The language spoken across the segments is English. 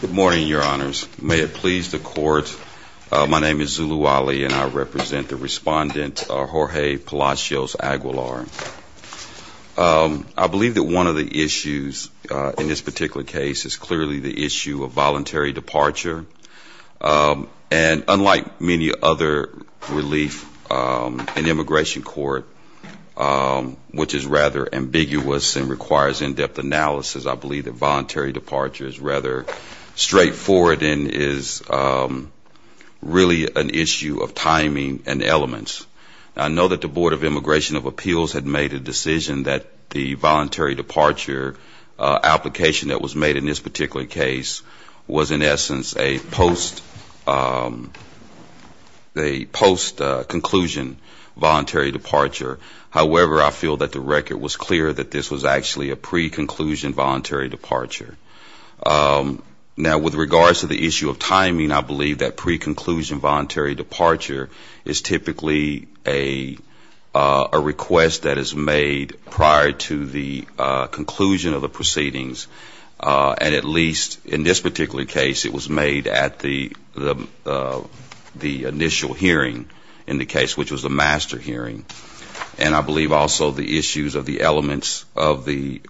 Good morning, your honors. May it please the court, my name is Zulu Ali and I represent the respondent Jorge Palacios-Aguilar. I believe that one of the issues in this particular case is clearly the issue of voluntary departure and unlike many other relief in immigration court, which is rather ambiguous and requires in-depth analysis, I believe that voluntary departure is rather straightforward and is really an issue of timing and elements. I know that the Board of Immigration of Appeals had made a decision that the voluntary departure application that was made in this particular case was in essence a post-conclusion voluntary departure. However, I feel that the record was clear that this was actually a pre-conclusion voluntary departure. Now, with regards to the issue of timing, I believe that pre-conclusion voluntary departure is typically a request that is made prior to the conclusion of the proceedings and at least in this particular case it was made at the initial hearing in the case, which was the master hearing. And I believe also the issues of the elements of the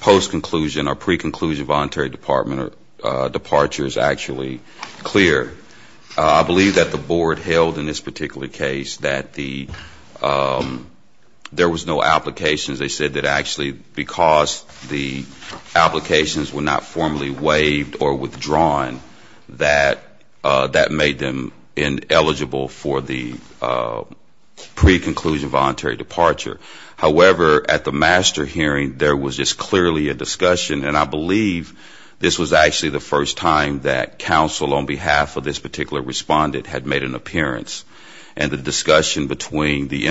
post-conclusion or pre-conclusion voluntary departure is actually clear. I believe that the board held in this particular case that there was no application. They said that actually because the applications were not formally waived or withdrawn that that made them ineligible for the pre-conclusion voluntary departure. However, at the master hearing there was just clearly a discussion and I believe this was actually the first time that counsel on behalf of this particular respondent had made an appearance and the discussion between the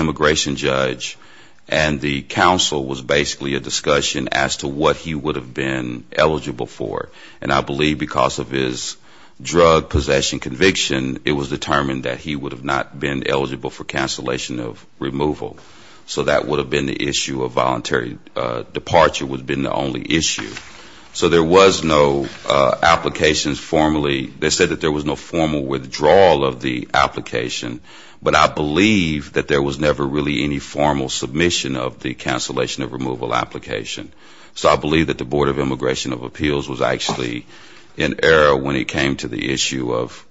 what he would have been eligible for. And I believe because of his drug possession conviction, it was determined that he would have not been eligible for cancellation of removal. So that would have been the issue of voluntary departure would have been the only issue. So there was no applications formally. They said that there was no formal withdrawal of the application, but I believe that there was never really any formal submission of the cancellation of removal application. So I believe that the Board of Immigration of Appeals was actually in error when it came to the issue of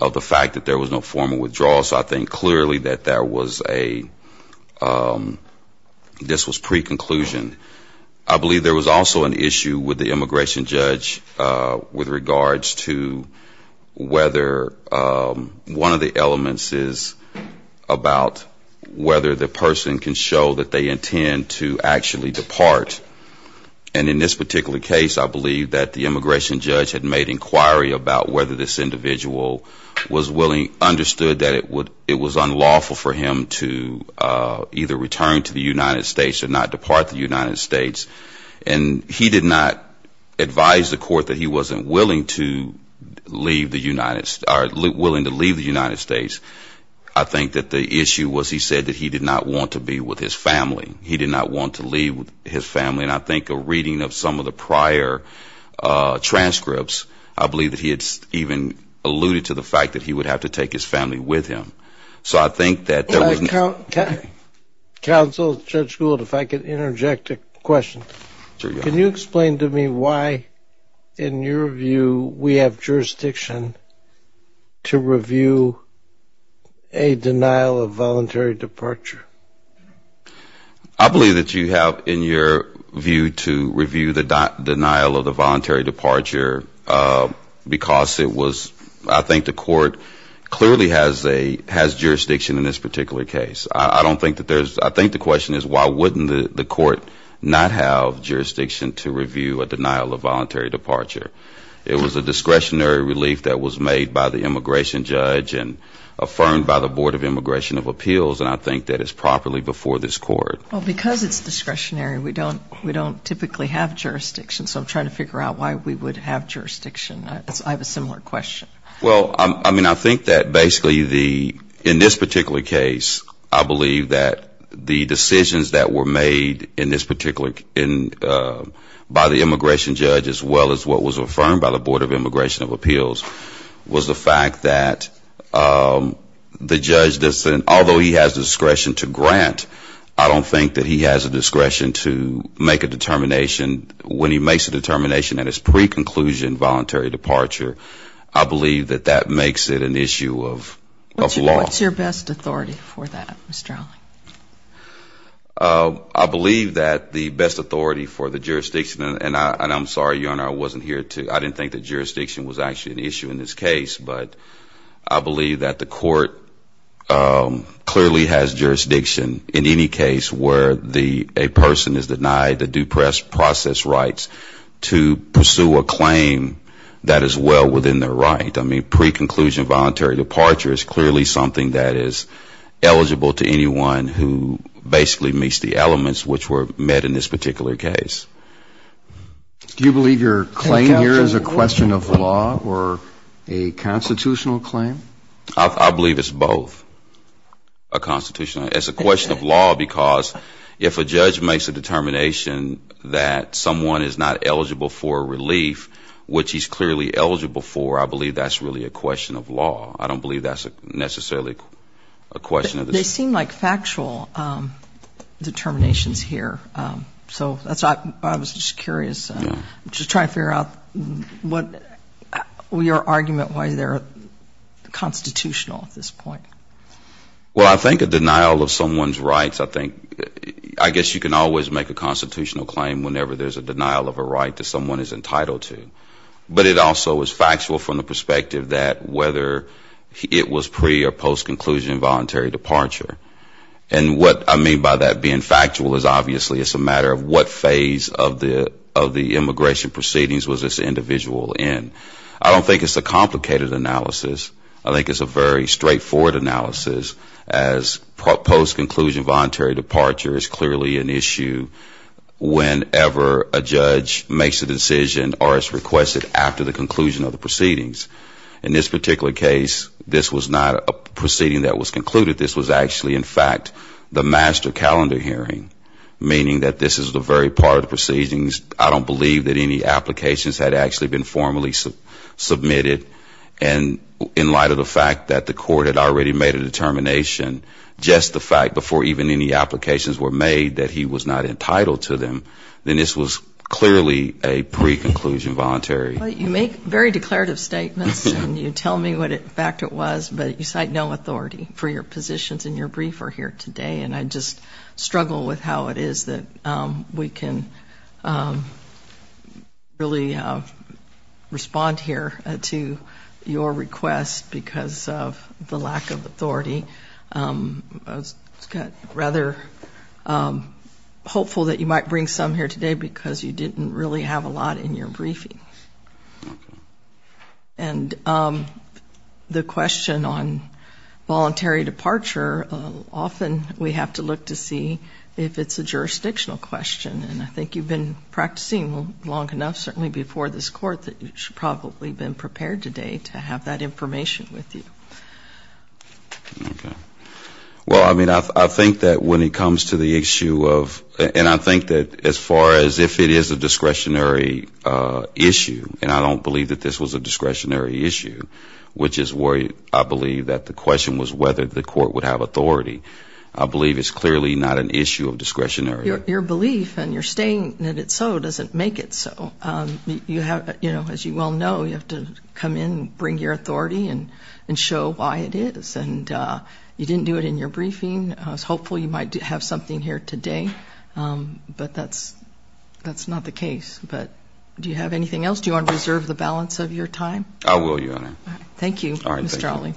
the fact that there was no formal withdrawal. So I think clearly that there was a, this was pre-conclusion. I believe there was also an issue with the immigration judge with regards to whether one of the elements is about whether the person can show that they intend to actually depart. And in this particular case, I believe that the immigration judge had made inquiry about whether this individual was willing, understood that it was unlawful for him to either return to the United States or not depart the United States. And he did not advise the court that he wasn't willing to leave the United, or willing to leave the United States. I think that the issue was he said that he did not want to be with his family. He did not want to leave his family. And I think a reading of some of the prior transcripts, I believe that he had even alluded to the fact that he would have to take his family with him. So I think that there was no Counsel, Judge Gould, if I could interject a question. Sure, Your Honor. Can you explain to me why, in your view, we have jurisdiction to review a denial of voluntary departure? I believe that you have, in your view, to review the denial of the voluntary departure because it was, I think the court clearly has a, has jurisdiction in this particular case. I don't think that there's, I think the question is why wouldn't the court not have jurisdiction to review a denial of voluntary departure? It was a discretionary relief that was made by the immigration judge and affirmed by the Board of Immigration of Appeals, and I think that it's properly before this court. Well, because it's discretionary, we don't typically have jurisdiction. So I'm trying to figure out why we would have jurisdiction. I have a similar question. Well, I mean, I think that basically the, in this particular case, I believe that the decisions that were made in this particular, by the immigration judge as well as what was the fact that the judge, although he has discretion to grant, I don't think that he has a discretion to make a determination. When he makes a determination and it's pre-conclusion voluntary departure, I believe that that makes it an issue of law. What's your best authority for that, Mr. Alling? I believe that the best authority for the jurisdiction, and I'm sorry, Your Honor, I didn't think that jurisdiction was actually an issue in this case, but I believe that the court clearly has jurisdiction in any case where a person is denied the due process rights to pursue a claim that is well within their right. I mean, pre-conclusion voluntary departure is clearly something that is eligible to anyone who basically meets the elements which were met in this particular case. Do you believe your claim here is a question of law or a constitutional claim? I believe it's both a constitutional, it's a question of law because if a judge makes a determination that someone is not eligible for relief, which he's clearly eligible for, I believe that's really a question of law. I don't believe that's necessarily a question of the... They seem like factual determinations here, so that's why I was just curious, just trying to figure out what your argument why they're constitutional at this point. Well, I think a denial of someone's rights, I think, I guess you can always make a constitutional claim whenever there's a denial of a right that someone is entitled to, but it also is post-conclusion voluntary departure. And what I mean by that being factual is obviously it's a matter of what phase of the immigration proceedings was this individual in. I don't think it's a complicated analysis. I think it's a very straightforward analysis as post-conclusion voluntary departure is clearly an issue whenever a judge makes a decision or is requested after the conclusion of the proceedings. In this particular case, this was not a proceeding that was concluded. This was actually, in fact, the master calendar hearing, meaning that this is the very part of the proceedings. I don't believe that any applications had actually been formally submitted. And in light of the fact that the court had already made a determination, just the fact before even any applications were made that he was not entitled to them, then this was clearly a pre-conclusion voluntary departure. Well, you make very declarative statements and you tell me what in fact it was, but you cite no authority for your positions in your brief or here today. And I just struggle with how it is that we can really respond here to your request because of the lack of authority. I was rather hopeful that you might bring some here today because you didn't really have a lot in your briefing. And the question on voluntary departure, often we have to look to see if it's a jurisdictional question. And I think you've been practicing long enough, certainly before this Court, that you should probably have been prepared today to have that information with you. Okay. Well, I mean, I think that when it comes to the issue of, and I think that as far as if it is a discretionary issue, and I don't believe that this was a discretionary issue, which is where I believe that the question was whether the Court would have authority. I believe it's clearly not an issue of discretionary. Your belief and your saying that it's so doesn't make it so. You have, you know, as you well know, you have to come in and bring your authority and show why it is. And you didn't do it in your briefing. I was hopeful you might have something here today. But that's not the case. But do you have anything else? Do you want to reserve the balance of your time? I will, Your Honor. All right. Thank you, Mr. Trawley.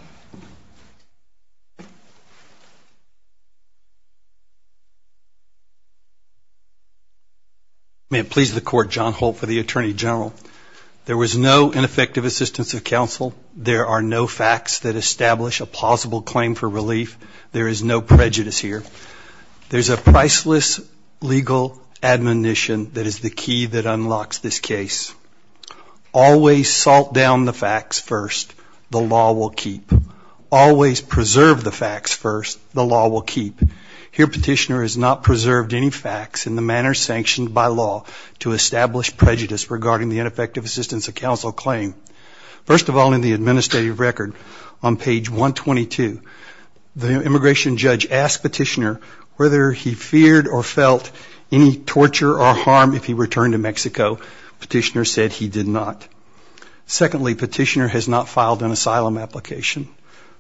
May it please the Court, John Holt for the Attorney General. There was no ineffective assistance of counsel. There are no facts that establish a plausible claim for relief. There is no prejudice here. There's a priceless legal admonition that is the key that unlocks this case. Always salt down the facts first. The law will keep. Always preserve the facts first. The law will keep. Here, Petitioner has not preserved any facts in the manner sanctioned by law to establish prejudice regarding the ineffective assistance of counsel claim. First of all, in the administrative record, on page 122, the immigration judge asked Petitioner whether he feared or felt any torture or harm if he returned to Mexico. Petitioner said he did not. Secondly, Petitioner has not filed an asylum application.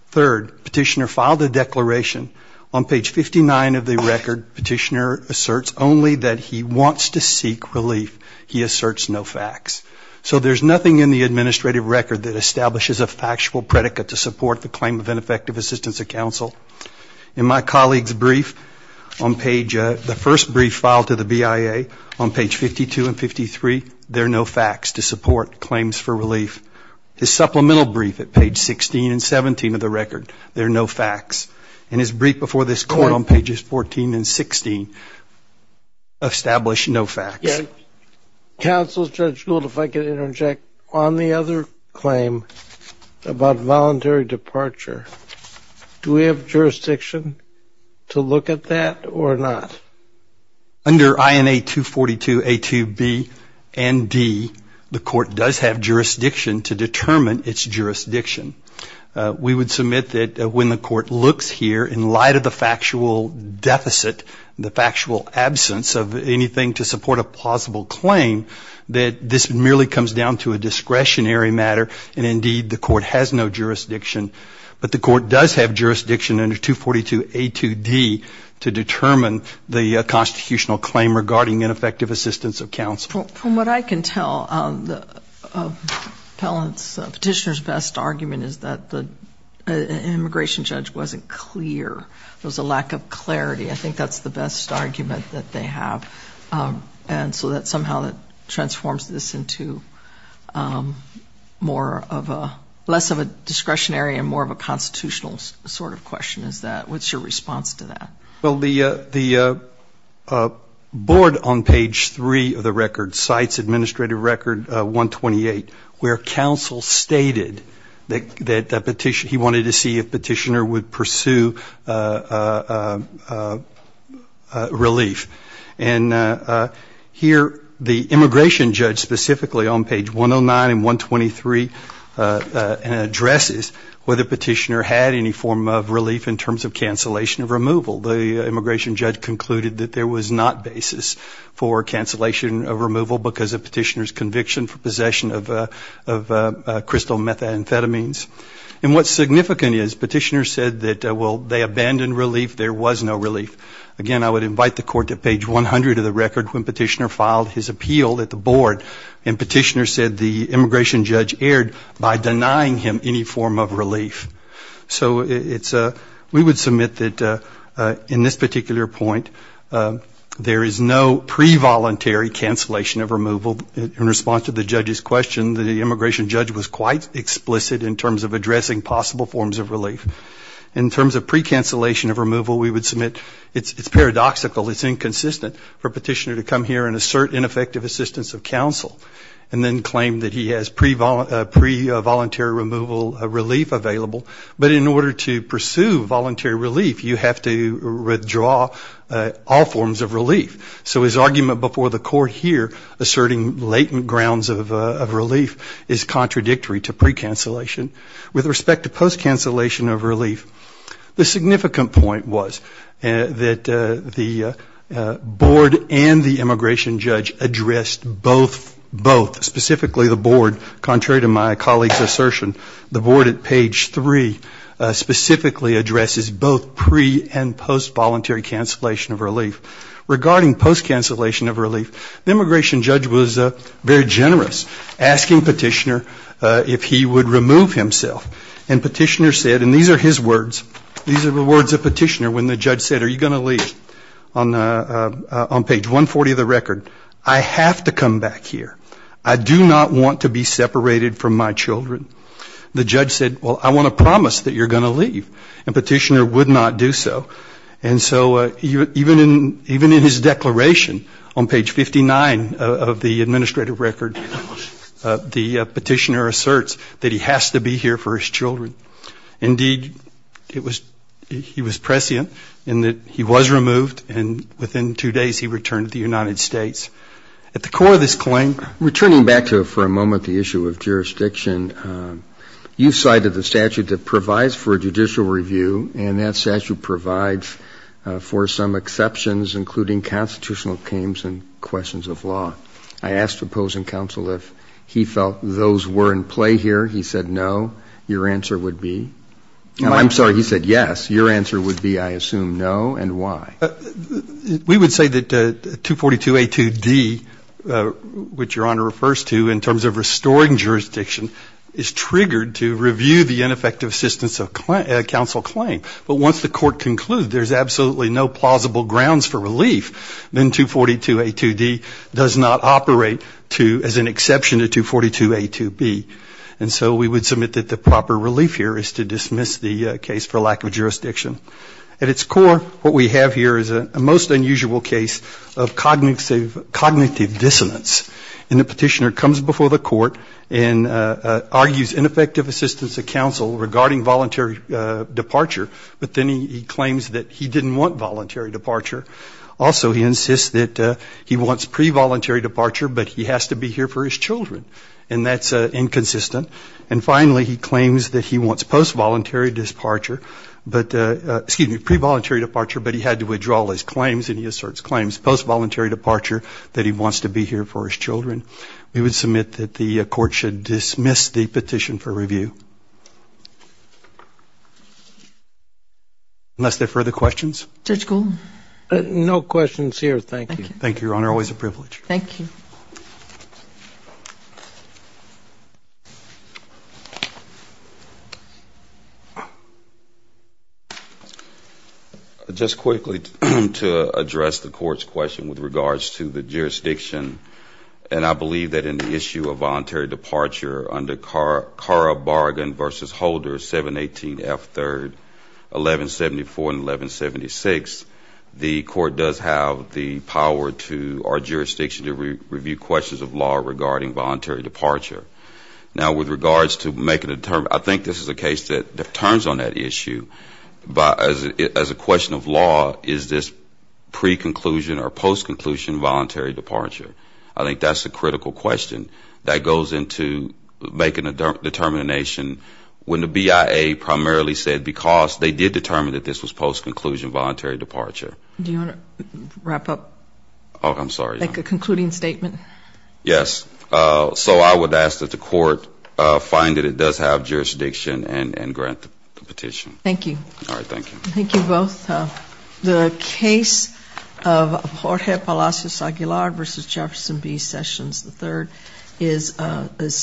Third, Petitioner filed a declaration. On page 59 of the record, Petitioner asserts only that he wants to seek relief. He asserts no facts. So there's nothing in the administrative record that establishes a factual predicate to support the claim of ineffective assistance of counsel. In my colleague's brief on page, the first brief filed to the BIA on page 52 and 53, there are no facts to support claims for relief. His supplemental brief at page 16 and 17 of the record, there are no facts. In his brief before this Court on pages 14 and 16, established no facts. Counsel Judge Gould, if I could interject, on the other claim about voluntary departure, do we have jurisdiction to look at that or not? Under INA 242A2B and D, the Court does have jurisdiction to determine its jurisdiction. We would submit that when the Court looks here, in light of the factual deficit, the claim, that this merely comes down to a discretionary matter and, indeed, the Court has no jurisdiction. But the Court does have jurisdiction under 242A2D to determine the constitutional claim regarding ineffective assistance of counsel. From what I can tell, Petitioner's best argument is that the immigration judge wasn't clear. There was a lack of clarity. I think that's the best argument that they have. And so that is how it transforms this into less of a discretionary and more of a constitutional sort of question. What's your response to that? The Board on page 3 of the record cites Administrative Record 128, where counsel stated that he wanted to see if Petitioner would pursue relief. And here, the Court has no jurisdiction. The immigration judge specifically on page 109 and 123 addresses whether Petitioner had any form of relief in terms of cancellation of removal. The immigration judge concluded that there was not basis for cancellation of removal because of Petitioner's conviction for possession of crystal methamphetamines. And what's significant is Petitioner said that, well, they abandoned relief. There was no relief. Again, I would invite the Court to page 100 of the record when Petitioner filed his appeal at the Board and Petitioner said the immigration judge erred by denying him any form of relief. So we would submit that in this particular point, there is no pre-voluntary cancellation of removal. In response to the judge's question, the immigration judge was quite explicit in terms of addressing possible forms of relief. In terms of pre-cancellation of removal, we think it's inconsistent for Petitioner to come here and assert ineffective assistance of counsel and then claim that he has pre-voluntary removal relief available. But in order to pursue voluntary relief, you have to withdraw all forms of relief. So his argument before the Court here asserting latent grounds of relief is contradictory to pre-cancellation. With respect to post-cancellation of relief, the significant point was that the Board and the immigration judge addressed both, specifically the Board, contrary to my colleague's assertion, the Board at page 3 specifically addresses both pre- and post-voluntary cancellation of relief. Regarding post-cancellation of relief, the immigration judge was very generous, asking Petitioner if he would remove himself. And Petitioner said, and these are his words, these are the words of Petitioner when the judge said, are you going to leave? On page 140 of the record, I have to come back here. I do not want to be separated from my children. The judge said, well, I want to promise that you're going to leave. And Petitioner would not do so. And so even in his declaration on page 59 of the administrative record, the Petitioner asserts that he has to be here for his children. Indeed, it was, he was prescient in that he was removed and within two days he returned to the United States. At the core of this claim, returning back to for a moment the issue of jurisdiction, you cited the statute that provides for judicial review and that statute provides for some exceptions including constitutional claims and questions of law. I asked opposing counsel if he felt those were in play here. He said no. Your answer would be, I'm sorry, he said yes. Your answer would be, I assume, no. And why? We would say that 242A2D, which Your Honor refers to in terms of restoring jurisdiction, is triggered to review the ineffective assistance of counsel claim. But once the court concludes there's absolutely no plausible grounds for relief, then 242A2D does not operate to, as an exception to 242A2B. And so we would submit that the proper relief here is to dismiss the case for lack of jurisdiction. At its core, what we have here is a most unusual case of cognitive dissonance. And the Petitioner comes before the court and argues ineffective assistance of counsel regarding voluntary departure, but then he claims that he didn't want voluntary departure. Also, he insists that he wants pre-voluntary departure, but he has to be here for his children. And that's inconsistent. And finally, he claims that he wants post-voluntary departure, but, excuse me, pre-voluntary departure, but he had to withdraw his claims, and he asserts claims post-voluntary departure, that he wants to be here for his children. We would submit that the court should dismiss the petition for review. Unless there are further questions? Judge Golden? No questions here. Thank you. Thank you, Your Honor. Always a privilege. Thank you. Just quickly to address the Court's question with regards to the jurisdiction, and I believe that in the issue of voluntary departure under CARA Bargain v. Holder 718F3, 1174 and 1176, the Court does have the power to our jurisdiction to review questions of law regarding voluntary departure. Now, with regards to making a determination, I think this is a case that turns on that issue, but as a question of law, is this pre-conclusion or post-conclusion voluntary departure? I think that's a critical question. That goes into making a determination when the BIA primarily said because they did determine that this was post-conclusion voluntary departure. Do you want to wrap up? Oh, I'm sorry. Like a concluding statement? Yes. So I would ask that the Court find that it does have jurisdiction and grant the petition. Thank you. All right. Thank you. Thank you both. The case of Jorge Palacios Aguilar v. Jefferson B. Sessions III is